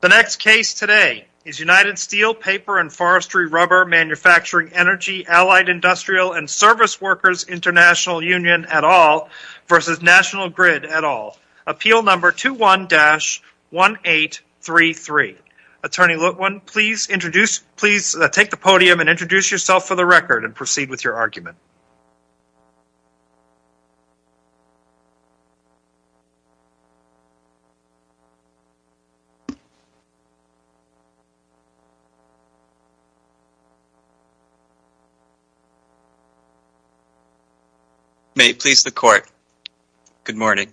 The next case today is United Steel Paper and Forestry Rubber Manufacturing Energy Allied Industrial and Service Workers International Union et al. v. National Grid et al. Appeal Number 21-1833. Attorney Litwin, please take the podium and introduce yourself for the record. May it please the Court. Good morning.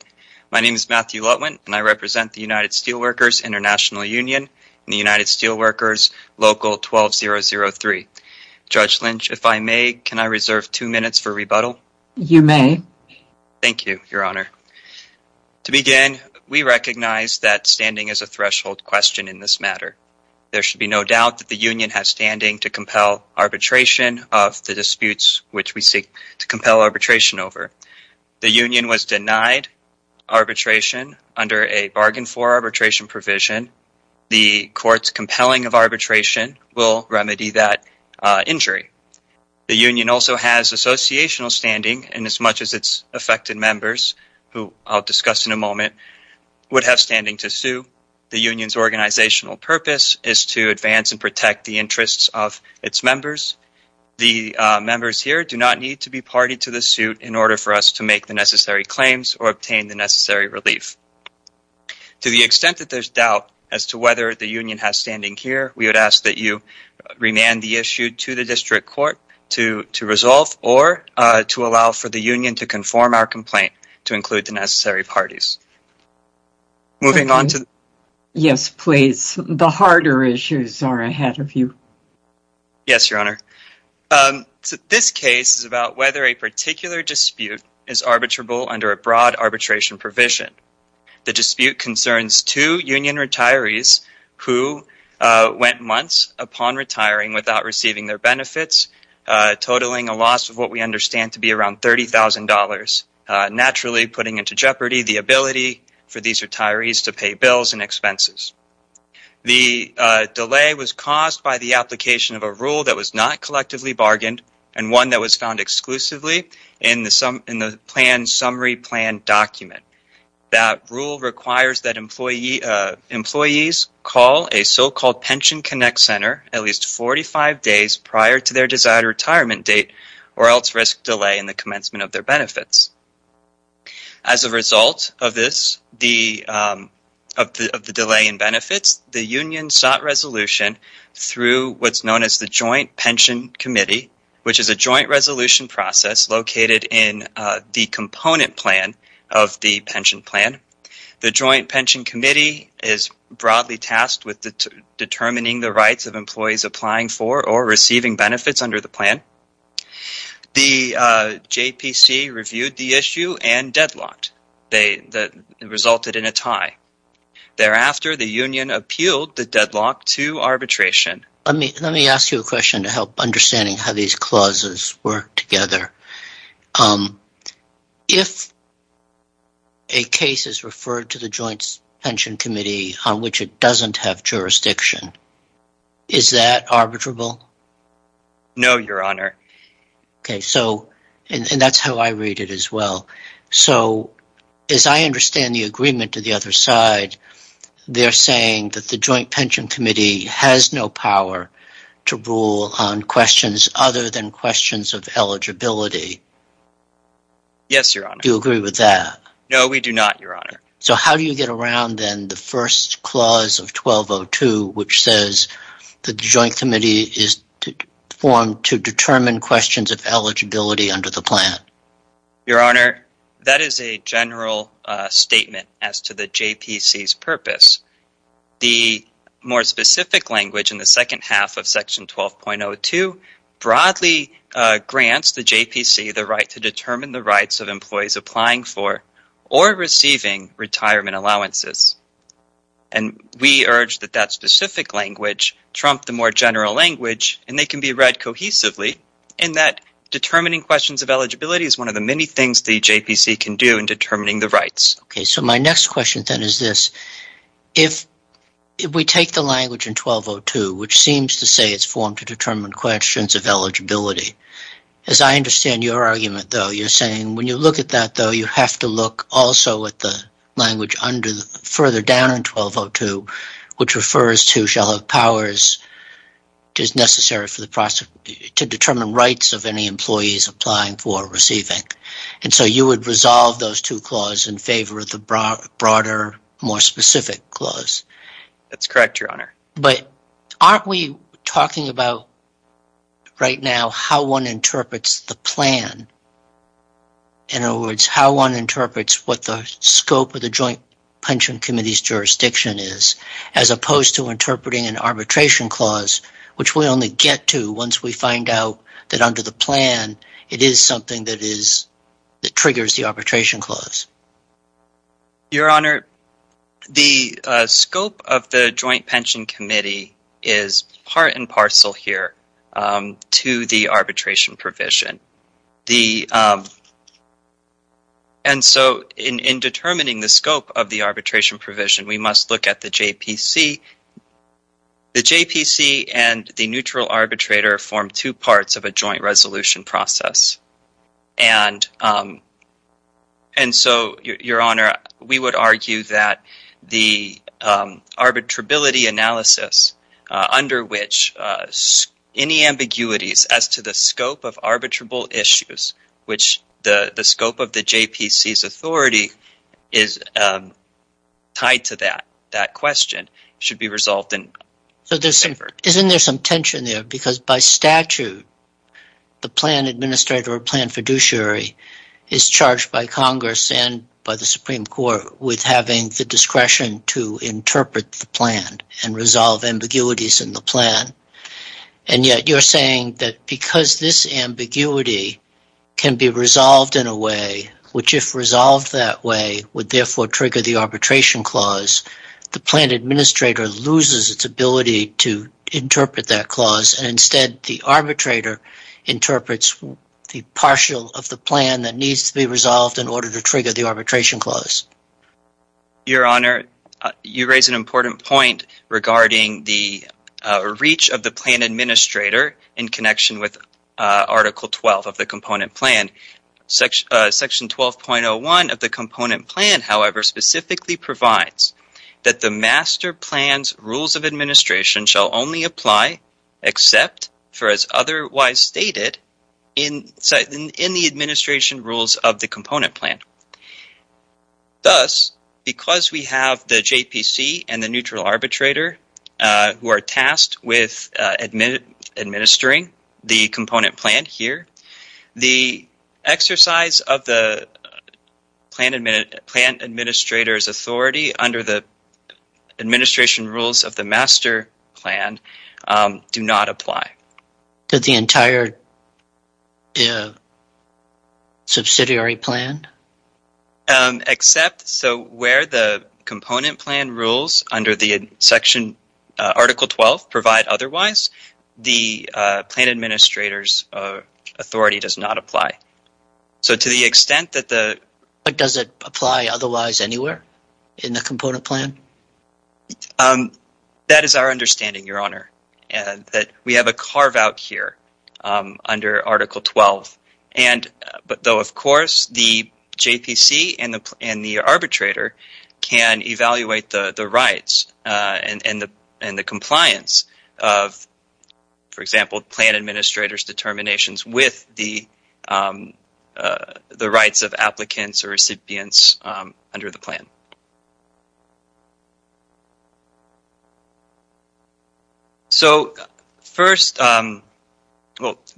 My name is Matthew Litwin and I represent the United Steelworkers International Union and the United Steelworkers Local 12003. Judge Lynch, if I may, can I reserve two minutes for rebuttal? You may. Thank you, Your Honor. To begin, we recognize that standing is a threshold question in this matter. There should be no doubt that the Union has standing to compel arbitration of the disputes which we seek to compel arbitration over. The Union was denied arbitration under a bargain for arbitration provision. The Court's compelling of arbitration will remedy that injury. The Union also has associational standing inasmuch as its affected members, who I will discuss in a moment, would have standing to sue. The Union's organizational purpose is to advance and protect the interests of its members. The members here do not need to be partied to the suit in order for us to make the necessary claims or obtain the necessary relief. To the extent that there is doubt as to whether the Union has standing here, we would ask that you remand the issue to the District Court to resolve or to allow for the Union to conform our complaint to include the necessary parties. Yes, please. The harder issues are ahead of you. Yes, Your Honor. This case is about whether a particular dispute is arbitrable under a broad without receiving their benefits, totaling a loss of what we understand to be around $30,000, naturally putting into jeopardy the ability for these retirees to pay bills and expenses. The delay was caused by the application of a rule that was not collectively bargained and one that was found exclusively in the summary plan document. That rule requires that employees call a so-called pension connect center at least 45 days prior to their desired retirement date or else risk delay in the commencement of their benefits. As a result of this, of the delay in benefits, the Union sought resolution through what's known as the Joint Pension Committee, which is a joint resolution process located in the component plan of the pension plan. The Joint Pension Committee is broadly tasked with determining the rights of employees applying for or receiving benefits under the plan. The JPC reviewed the issue and deadlocked. It resulted in a tie. Thereafter, the Union appealed the deadlock to arbitration. Let me ask you a question to help understanding how these clauses work together. Um, if a case is referred to the Joint Pension Committee on which it doesn't have jurisdiction, is that arbitrable? No, your honor. Okay, so and that's how I read it as well. So, as I understand the agreement to the other side, they're saying that the Joint Pension Committee has no power to rule on questions other than questions of eligibility. Yes, your honor. Do you agree with that? No, we do not, your honor. So, how do you get around then the first clause of 1202 which says the joint committee is formed to determine questions of eligibility under the plan? Your honor, that is a general statement as to the JPC's purpose. The more specific language in the second half of section 12.02 broadly grants the JPC the right to determine the rights of employees applying for or receiving retirement allowances. And we urge that that specific language trump the more general language and they can be read cohesively in that determining questions of eligibility is one of the many things the JPC can do in determining the if we take the language in 1202 which seems to say it's formed to determine questions of eligibility. As I understand your argument, though, you're saying when you look at that, though, you have to look also at the language under the further down in 1202 which refers to shall have powers just necessary for the process to determine rights of any employees applying for That's correct, your honor. But aren't we talking about right now how one interprets the plan? In other words, how one interprets what the scope of the joint pension committee's jurisdiction is as opposed to interpreting an arbitration clause which we only get to once we find out that under the plan it is something that is that triggers the arbitration clause? Your honor, the scope of the joint pension committee is part and parcel here to the arbitration provision. And so in determining the scope of the arbitration provision, we must look at the JPC. The JPC and the neutral arbitrator form two parts of a joint resolution process. And so, your honor, we would argue that the arbitrability analysis under which any ambiguities as to the scope of arbitrable issues, which the scope of the JPC's authority is tied to that question, should be resolved. Isn't there some tension there? Because by statute, the plan administrator or plan fiduciary is charged by Congress and by the Supreme Court with having the discretion to interpret the plan and resolve ambiguities in the plan. And yet you're saying that because this ambiguity can be resolved in a way which if resolved that way would therefore trigger the arbitration clause, the plan administrator loses its ability to arbitrate or interprets the partial of the plan that needs to be resolved in order to trigger the arbitration clause. Your honor, you raise an important point regarding the reach of the plan administrator in connection with article 12 of the component plan. Section 12.01 of the component plan, however, specifically provides that the master plan's rules of administration shall only apply except for as otherwise stated in the administration rules of the component plan. Thus, because we have the JPC and the neutral arbitrator who are tasked with administering the component plan here, the exercise of the plan administrator's authority under the do not apply. Did the entire subsidiary plan? Except so where the component plan rules under the section article 12 provide otherwise, the plan administrator's authority does not apply. So to the extent that the... But does it apply otherwise anywhere in the component plan? That is our understanding, your honor, and that we have a carve out here under article 12 and but though of course the JPC and the and the arbitrator can evaluate the rights and the compliance of, for example, plan administrator's determinations with the rights of applicants or employees. So first, well,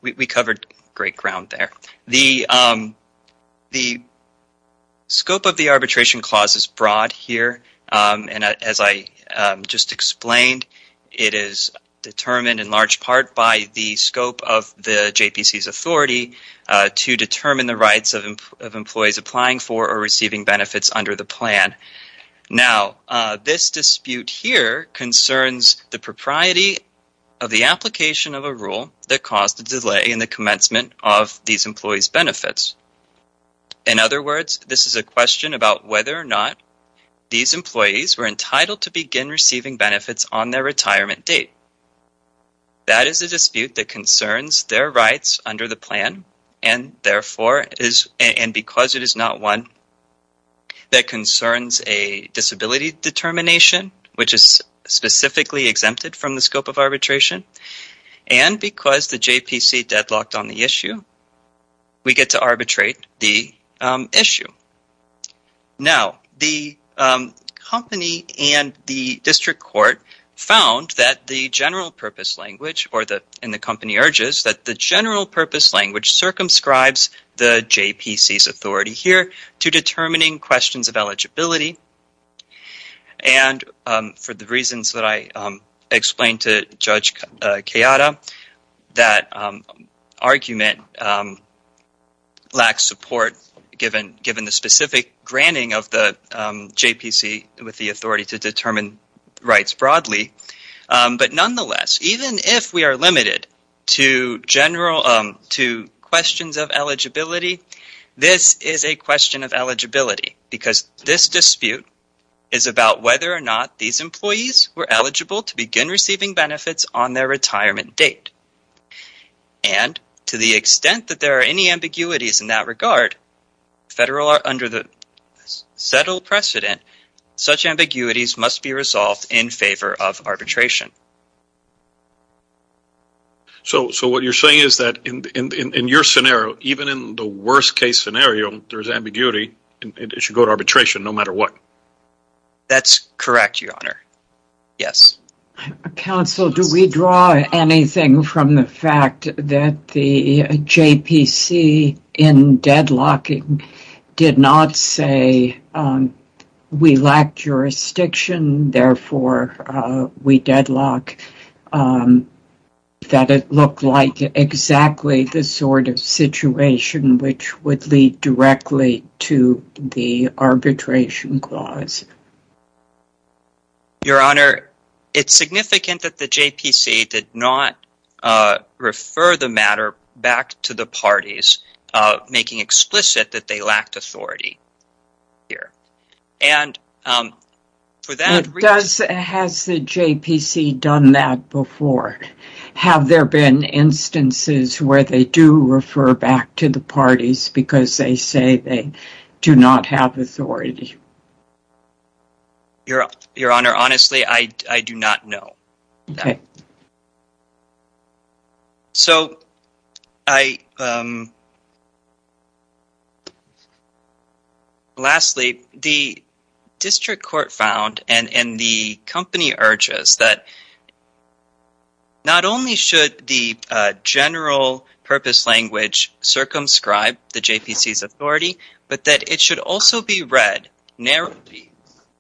we covered great ground there. The scope of the arbitration clause is broad here, and as I just explained, it is determined in large part by the scope of the JPC's authority to determine the rights of employees applying for or receiving benefits under the plan. Now, this dispute here concerns the propriety of the application of a rule that caused the delay in the commencement of these employees benefits. In other words, this is a question about whether or not these employees were entitled to begin receiving benefits on their retirement date. That is a dispute that concerns their rights under the plan and therefore is and because it is not one that concerns a disability determination, which is specifically exempted from the scope of arbitration, and because the JPC deadlocked on the issue, we get to arbitrate the issue. Now, the company and the district court found that the general purpose language or the and the company urges that the general purpose language circumscribes the JPC's authority here to determining questions of eligibility, and for the reasons that I explained to Judge Kayada, that argument lacks support given the specific granting of the JPC with the authority to determine rights broadly. But nonetheless, even if we are limited to questions of eligibility, this is a question of eligibility because this dispute is about whether or not these employees were eligible to begin receiving benefits on their retirement date, and to the extent that there are any ambiguities in that regard, federal or under the settled precedent, such ambiguities must be resolved in favor of arbitration. So what you're saying is that in your scenario, even in the worst case scenario, there's ambiguity and it should go to arbitration no matter what? That's correct, your honor. Yes. Counsel, do we draw anything from the fact that the JPC in deadlocking did not say um, we lack jurisdiction, therefore we deadlock, that it looked like exactly the sort of situation which would lead directly to the arbitration clause? Your honor, it's significant that the JPC did not refer the matter back to the parties, making explicit that they lacked authority here. And, um, for that reason... Has the JPC done that before? Have there been instances where they do refer back to the parties because they say they do not have authority? Your honor, honestly, I do not know. Okay. So I, um, lastly, the district court found and the company urges that not only should the general purpose language circumscribe the JPC's authority, but that it should also be read narrowly,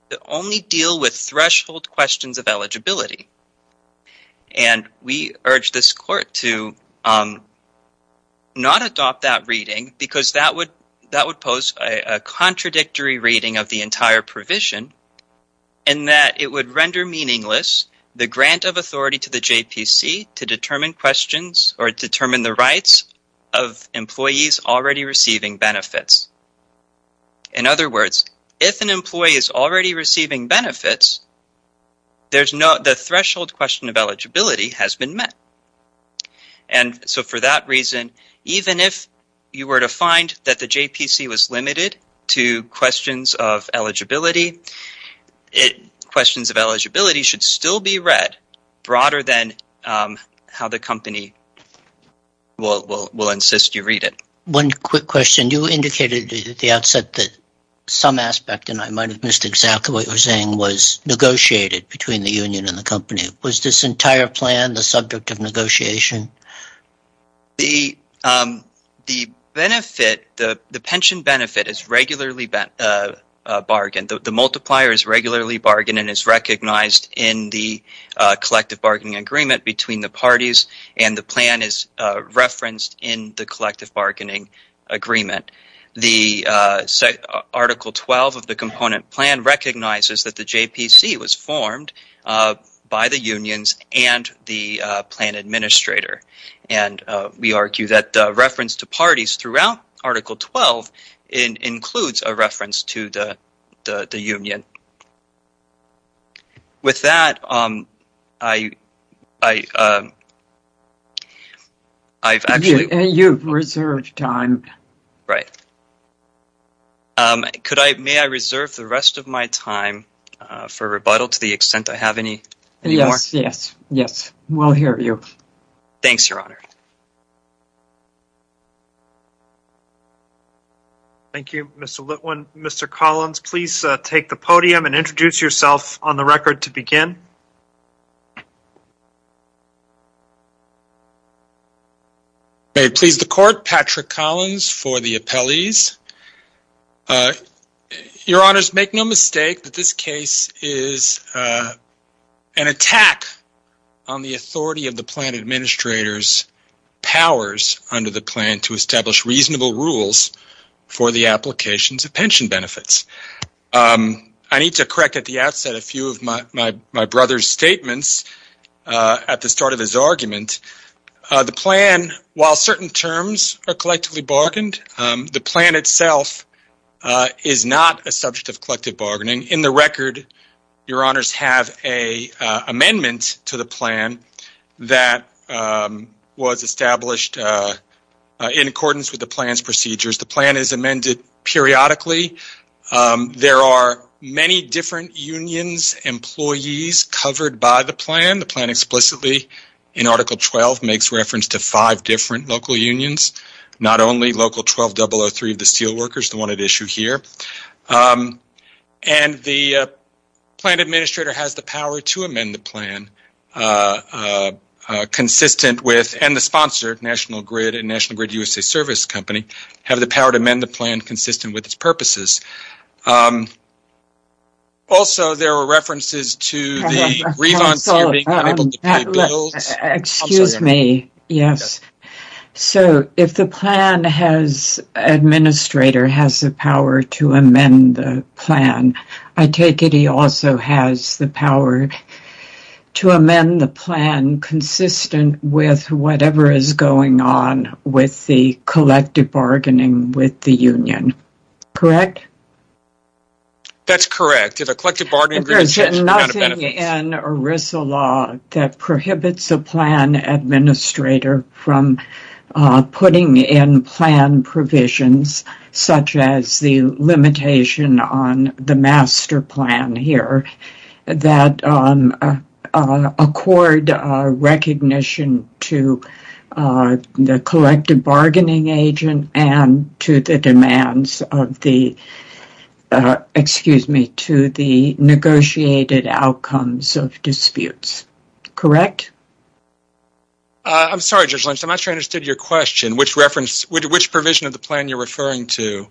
that only deal with threshold questions of eligibility. And we urge this court to, um, not adopt that reading because that would, that would pose a contradictory reading of the entire provision and that it would render meaningless the grant of authority to the JPC to determine questions or determine the rights of employees already receiving benefits. In other words, if an employee is already receiving benefits, there's no, the threshold question of eligibility has been met. And so for that reason, even if you were to find that the JPC was limited to questions of eligibility, it, questions of eligibility should still be read broader than, um, how the company will, will, will insist you read it. One quick question. You indicated at the outset that some aspect, and I might've missed exactly what you were saying, was negotiated between the union and the company. Was this entire plan the subject of negotiation? The, um, the benefit, the, the pension benefit is regularly, uh, uh, bargained. The multiplier is regularly bargained and is recognized in the, uh, collective bargaining agreement between the uh, article 12 of the component plan recognizes that the JPC was formed, uh, by the unions and the, uh, plan administrator. And, uh, we argue that the reference to parties throughout article 12 includes a reference to the, the, the union. With that, um, I, I, uh, I've actually- And you've reserved time. Right. Um, could I, may I reserve the rest of my time, uh, for rebuttal to the extent I have any, any more? Yes, yes, yes. We'll hear you. Thanks, Your Honor. Thank you, Mr. Litwin. Mr. Collins, please, uh, take the podium and introduce yourself on the record to begin. May it please the court, Patrick Collins for the appellees. Uh, Your Honors, make no mistake that this case is, uh, an attack on the authority of the plan administrator's powers under the plan to establish reasonable rules for the applications of pension benefits. Um, I need to correct at the outset a few of my, my, my brother's statements, uh, at the start of his argument. Uh, the plan, while certain terms are collectively bargained, um, the plan itself, uh, is not a subject of collective bargaining. In the record, Your Honors have a, uh, amendment to the plan that, um, was established, uh, in accordance with the plan's procedures. The plan is amended periodically. Um, there are many different unions' employees covered by the plan. The plan explicitly in Article 12 makes reference to five different local unions, not only local 1203 of the steel workers, the one at issue here. Um, and the, uh, plan administrator has the power to amend the plan, uh, uh, uh, consistent with, and the sponsor, National Grid and National Grid USA Service Company, have the power to amend the plan consistent with its purposes. Um, also, there are references to the revance hearing, unable to pay bills. Excuse me. Yes. So, if the plan has, administrator has the power to amend the plan, I take it he also has the power to amend the plan consistent with whatever is going on with the collective bargaining with the union, correct? That's correct. If a collective bargaining agreement... There is nothing in ERISA law that prohibits a plan administrator from, uh, putting in plan provisions, such as the limitation on the master plan here, that, um, uh, accord, uh, recognition to, uh, the collective bargaining agent and to the demands of the, uh, excuse me, to the negotiated outcomes of disputes, correct? Uh, I'm sorry, Judge Lynch, I'm not sure I understood your question. Which reference, which provision of the plan you're referring to?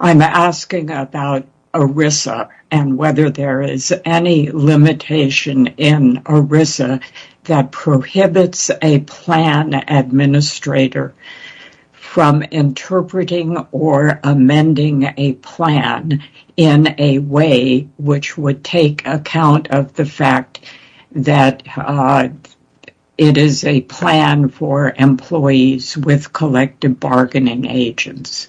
I'm asking about ERISA and whether there is any limitation in ERISA that prohibits a plan administrator from interpreting or amending a plan in a way which would take account of the fact that, uh, it is a plan for employees with collective bargaining agents.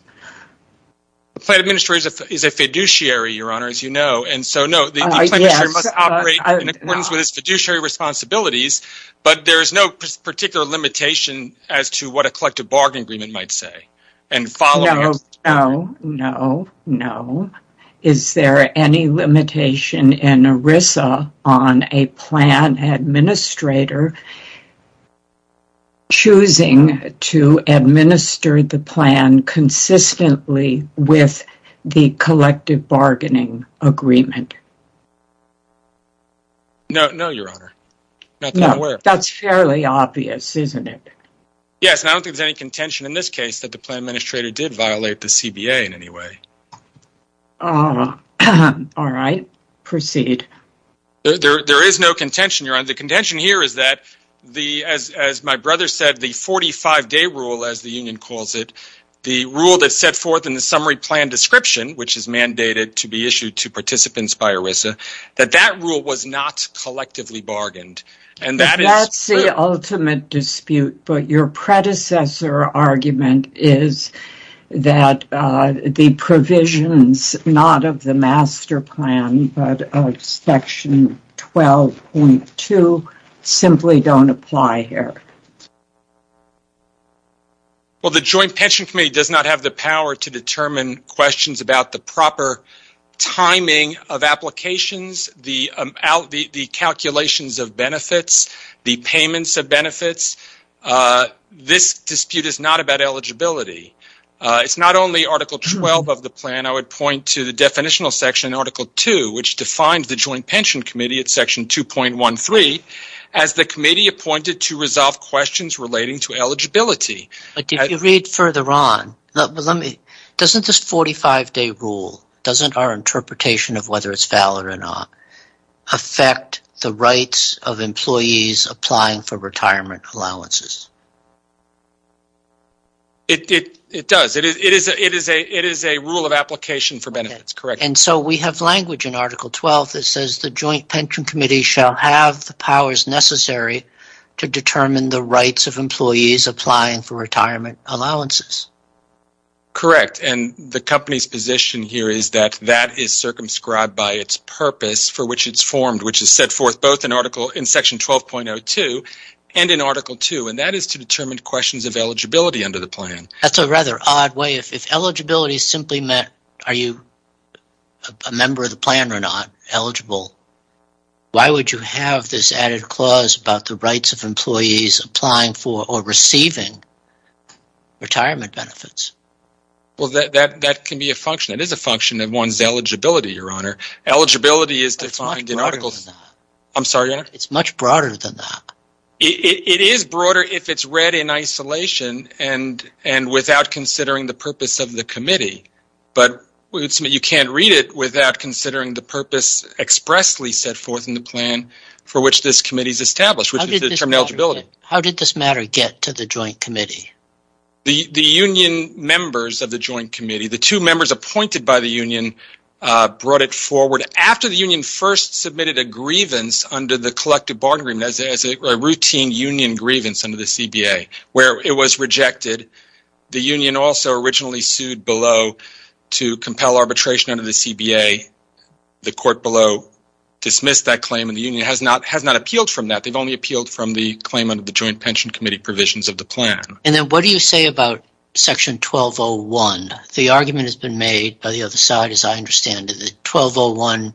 The plan administrator is a fiduciary, Your Honor, as you know, and so, no, the plan must operate in accordance with its fiduciary responsibilities, but there is no particular limitation as to what a collective bargaining agreement might say, and following... No, no, no. Is there any limitation in ERISA on a plan administrator choosing to administer the plan consistently with the collective bargaining agreement? No, no, Your Honor, not that I'm aware of. That's fairly obvious, isn't it? Yes, and I don't think there's any contention in this case that the plan administrator did violate the CBA in any way. Uh, all right, proceed. There is no contention, Your Honor. The contention here is that the, as my brother said, the 45-day rule, as the union calls it, the rule that's set forth in the summary plan description, which is mandated to be issued to participants by ERISA, that that rule was not collectively bargained, and that is... That's the ultimate dispute, but your predecessor argument is that the provisions, not of the master plan, but of Article 12.2, simply don't apply here. Well, the Joint Pension Committee does not have the power to determine questions about the proper timing of applications, the calculations of benefits, the payments of benefits. This dispute is not about eligibility. It's not only Article 12 of the plan. I would point to the definitional section in Article 2, which defines the Joint Pension Committee at Section 2.13, as the committee appointed to resolve questions relating to eligibility. But if you read further on, let me... Doesn't this 45-day rule, doesn't our interpretation of whether it's valid or not, affect the rights of employees applying for retirement allowances? It does. It is a rule of application for benefits, correct. And so we have in Article 12, it says the Joint Pension Committee shall have the powers necessary to determine the rights of employees applying for retirement allowances. Correct. And the company's position here is that that is circumscribed by its purpose for which it's formed, which is set forth both in Article... in Section 12.02 and in Article 2, and that is to determine questions of eligibility under the plan. That's a rather odd way. If eligibility simply meant are you a member of the plan or not eligible, why would you have this added clause about the rights of employees applying for or receiving retirement benefits? Well, that can be a function. It is a function of one's eligibility, Your Honor. Eligibility is defined in Article... I'm sorry, Your Honor? It's much broader than that. It is broader if it's read in isolation and without considering the purpose of the committee. But you can't read it without considering the purpose expressly set forth in the plan for which this committee is established, which is to determine eligibility. How did this matter get to the Joint Committee? The union members of the Joint Committee, the two members appointed by the union, brought it forward after the union first submitted a grievance under the Collective Bargaining Agreement, a routine union grievance under the CBA, where it was rejected. The union also originally sued below to compel arbitration under the CBA. The court below dismissed that claim and the union has not appealed from that. They've only appealed from the claim under the Joint Pension Committee provisions of the plan. And then what do you say about Section 1201? The argument has been made by the other side, as I understand it, that 1201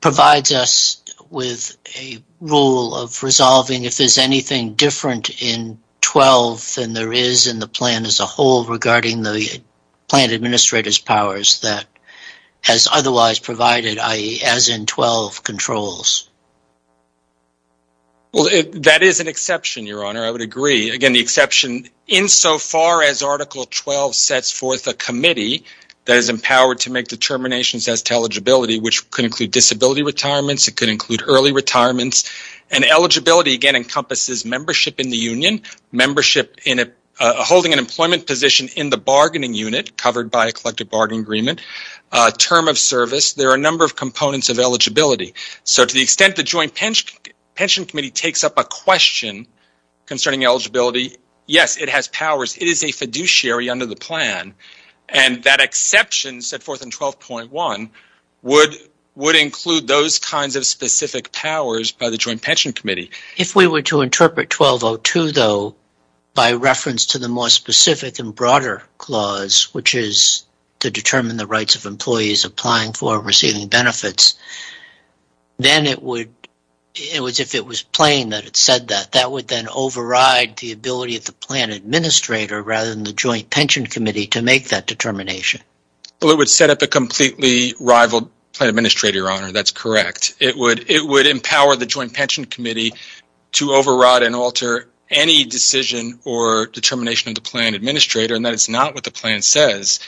provides us with a rule of resolving if there's anything different in 12 than there is in the plan as a whole regarding the plan administrator's powers that has otherwise provided, i.e. as in 12, controls. Well, that is an exception, Your Honor. I would agree. Again, the exception in so far as Article 12 sets forth a committee that is empowered to make determinations as to eligibility, which could include disability retirements. It could include early retirements. And eligibility, again, encompasses membership in the union, holding an employment position in the bargaining unit covered by a Collective Bargaining Agreement, term of service. There are a number of components of eligibility. So to the extent the Joint Pension Committee takes up a question concerning eligibility, yes, it has powers. It is a fiduciary under the plan. And that exception set forth in would include those kinds of specific powers by the Joint Pension Committee. If we were to interpret 1202, though, by reference to the more specific and broader clause, which is to determine the rights of employees applying for and receiving benefits, then it would, it was if it was plain that it said that, that would then override the ability of the plan administrator rather than the Joint Pension Committee to make that determination. Well, it would set up a completely rivaled plan administrator, Your Honor. That's correct. It would, it would empower the Joint Pension Committee to override and alter any decision or determination of the plan administrator. And that is not what the plan says.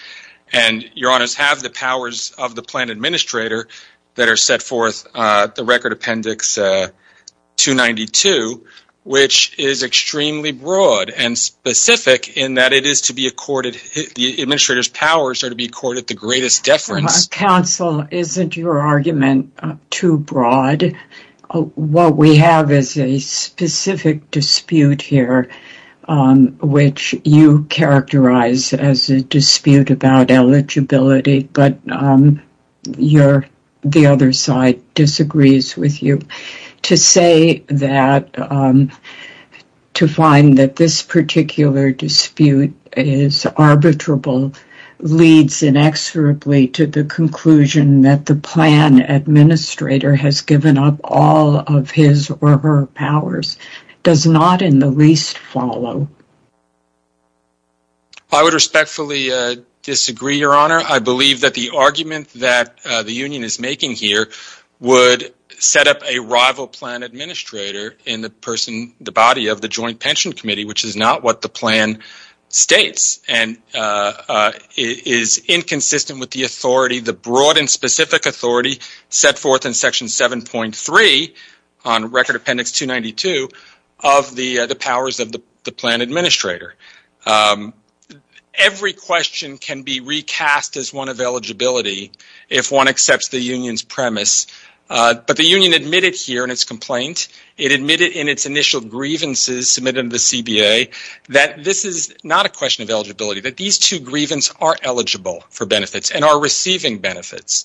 And Your Honors have the powers of the plan administrator that are set forth the Record Appendix 292, which is extremely broad and specific in that it is to be accorded, the administrator's powers are to be accorded the greatest deference. Counsel, isn't your argument too broad? What we have is a specific dispute here, which you characterize as a dispute about eligibility, but your, the other side disagrees with you. To say that, to find that this particular dispute is arbitrable leads inexorably to the conclusion that the plan administrator has given up all of his or her powers does not in the least follow. I would respectfully disagree, Your Honor. I believe that the argument that the union is making here would set up a rival plan administrator in the person, the body of the Joint Pension Committee, which is not what the plan states and is inconsistent with the authority, the broad and specific authority set forth in Section 7.3 on Record Appendix 292 of the powers of the plan administrator. Every question can be recast as one of eligibility if one accepts the union's premise, but the union admitted here in its complaint, it admitted in its initial grievances submitted to the CBA that this is not a question of eligibility, that these two grievance are eligible for benefits and are receiving benefits.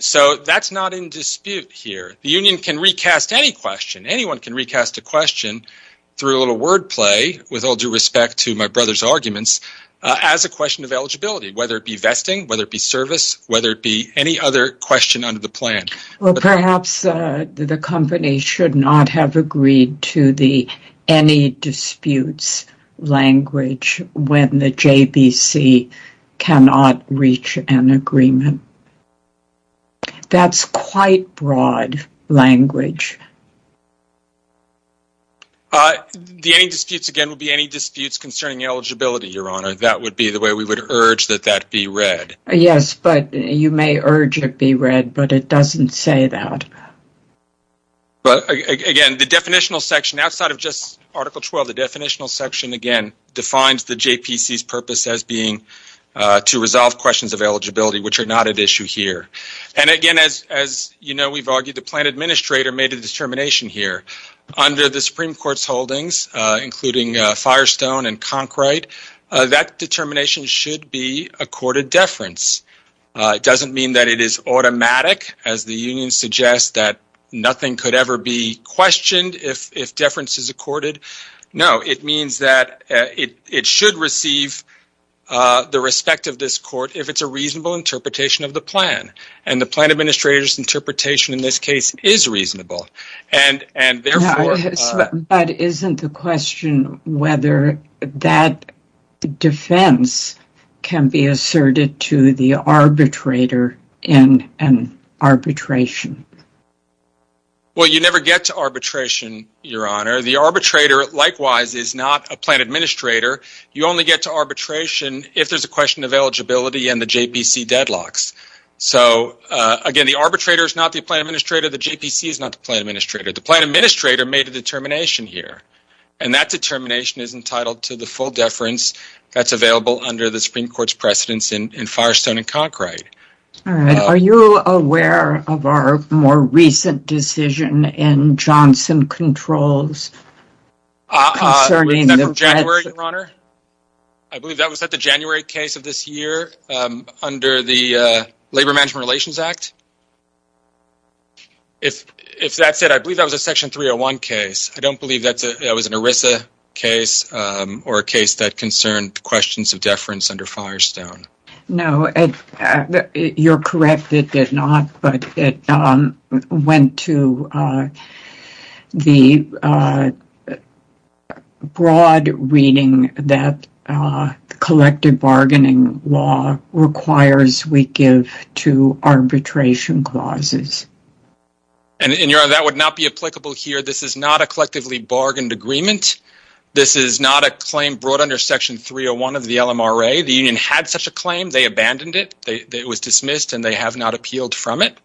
So that's not in dispute here. The union can recast any question. Anyone can recast a question through a little wordplay with all due respect to my brother's arguments as a question of service, whether it be any other question under the plan. Perhaps the company should not have agreed to the any disputes language when the JBC cannot reach an agreement. That's quite broad language. The any disputes again would be any disputes concerning eligibility, Your Honor. That would be the way we would urge that that be read. Yes, but you may urge it be read, but it doesn't say that. But again, the definitional section outside of just Article 12, the definitional section again defines the JPC's purpose as being to resolve questions of eligibility, which are not at issue here. And again, as you know, we've argued the plan administrator made a determination here under the Supreme Court's holdings, including Firestone and Conkright. That determination should be accorded deference. It doesn't mean that it is automatic as the union suggests that nothing could ever be questioned if deference is accorded. No, it means that it should receive the respect of this court if it's a reasonable interpretation of the plan and the plan administrator's case is reasonable. But isn't the question whether that defense can be asserted to the arbitrator in an arbitration? Well, you never get to arbitration, Your Honor. The arbitrator likewise is not a plan administrator. You only get to arbitration if there's a question of eligibility and the JPC deadlocks. So again, the arbitrator is not the plan administrator. The JPC is not the plan administrator. The plan administrator made a determination here, and that determination is entitled to the full deference that's available under the Supreme Court's precedence in Firestone and Conkright. All right. Are you aware of our more recent decision in Johnson Controls? I believe that was at the January case of this year under the Labor Management Relations Act. If that's it, I believe that was a Section 301 case. I don't believe that was an ERISA case or a case that concerned questions of deference under Firestone. No, you're correct. It did not, but it went to the broad reading that collective bargaining law requires we give to arbitration clauses. And Your Honor, that would not be applicable here. This is not a collectively bargained agreement. This is not a claim brought under Section 301 of the LMRA. The union had such a claim. They abandoned it. It was dismissed, and they have not appealed from it.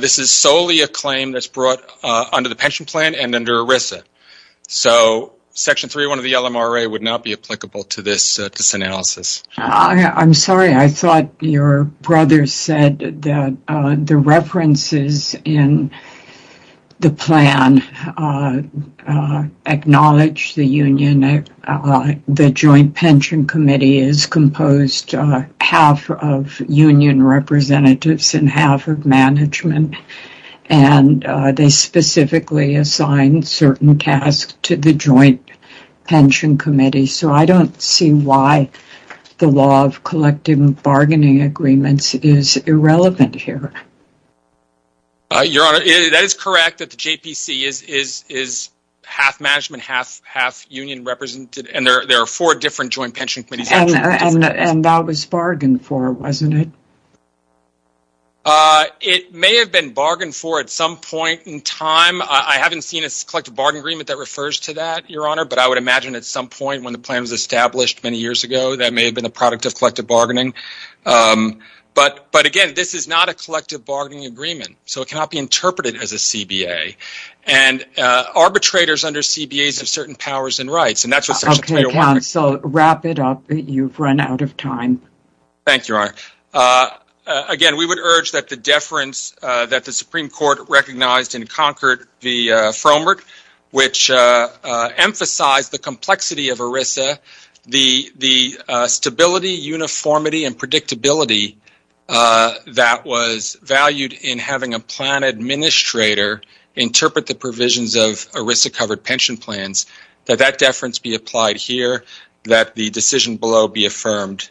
This is solely a claim that's brought under the pension plan and under ERISA. So Section 301 of the LMRA would not be applicable to this analysis. I'm sorry. I thought your brother said that the references in the plan acknowledge the union. The Joint Pension Committee is composed half of union representatives and half of management, and they specifically assign certain tasks to the Joint Pension Committee. So I don't see why the law of collective bargaining agreements is irrelevant here. Your Honor, that is correct that the JPC is half management, half union represented, and there are four different Joint Pension Committees. And that was bargained for, wasn't it? It may have been bargained for at some point in time. I haven't seen a collective bargaining agreement that refers to that, Your Honor, but I would imagine at some point when the plan was established many years ago, that may have been a product of that. But again, this is not a collective bargaining agreement, so it cannot be interpreted as a CBA. And arbitrators under CBAs have certain powers and rights, and that's what Section 301... Okay, counsel, wrap it up. You've run out of time. Thank you, Your Honor. Again, we would urge that the deference that the Supreme Court recognized in Concord v. Frommert, which emphasized the complexity of ERISA, the stability, uniformity, and predictability that was valued in having a plan administrator interpret the provisions of ERISA-covered pension plans, that that deference be applied here, that the decision below be affirmed.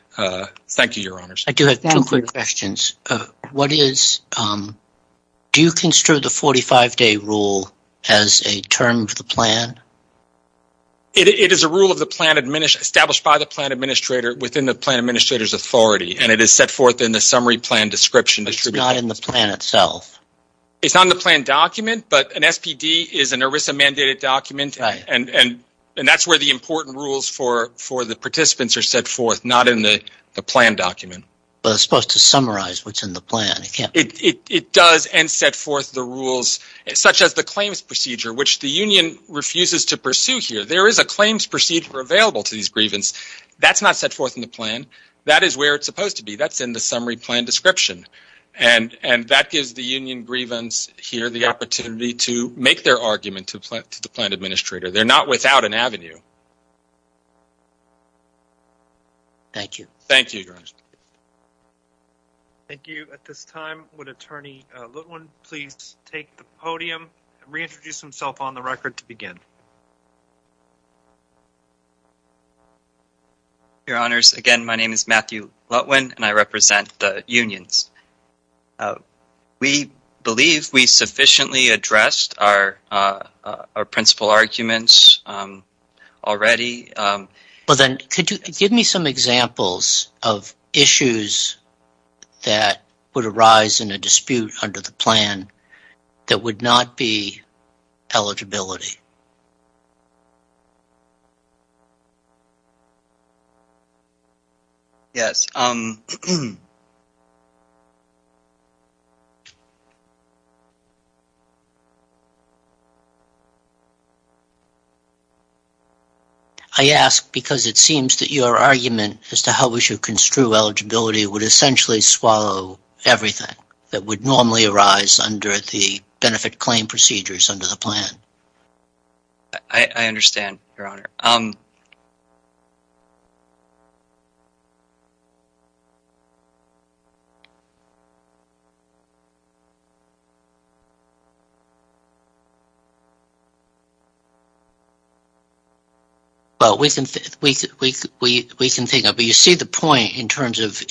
Thank you, Your Honors. I do have two quick questions. Do you consider the 45-day rule as a term of the plan? It is a rule of the plan established by the plan administrator within the plan administrator's authority, and it is set forth in the summary plan description. It's not in the plan itself? It's not in the plan document, but an SPD is an ERISA-mandated document, and that's where the important rules for the participants are set forth, not in the plan document. But it's supposed to summarize what's in the plan. It does, and set forth the rules, such as the claims procedure, which the union refuses to pursue here. There is a claims procedure available to these grievance. That's not set forth in the plan. That is where it's supposed to be. That's in the summary plan description, and that gives the union grievance here the opportunity to make their argument to the plan administrator. They're not without an avenue. Thank you. Thank you, Your Honors. Thank you. At this time, would Attorney Litwin please take the podium and reintroduce himself on the record to begin? Your Honors, again, my name is Matthew Litwin, and I represent the unions. We believe we sufficiently addressed our principal arguments already. Well, then could you give me some examples of issues that would arise in a dispute under the plan that would not be eligibility? Yes. I ask because it seems that your argument as to how we should construe eligibility would swallow everything that would normally arise under the benefit claim procedures under the plan. Well, we can think of it. You see the point in terms of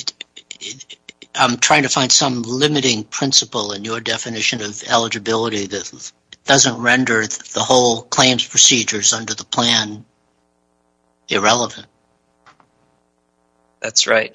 I'm trying to find some limiting principle in your definition of eligibility that doesn't render the whole claims procedures under the plan irrelevant. That's right.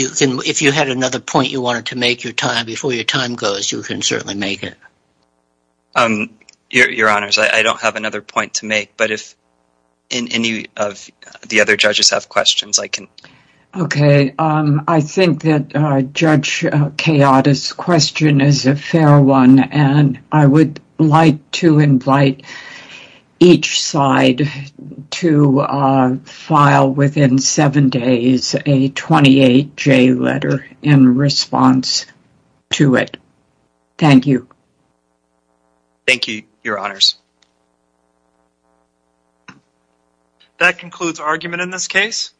If you had another point you wanted to make before your time goes, you can certainly make it. Um, Your Honors, I don't have another point to make, but if in any of the other judges have questions, I can. Okay. I think that Judge Kayada's question is a fair one, and I would like to invite each side to file within seven days a 28-J letter in response to it. Thank you. Thank you, Your Honors. That concludes argument in this case.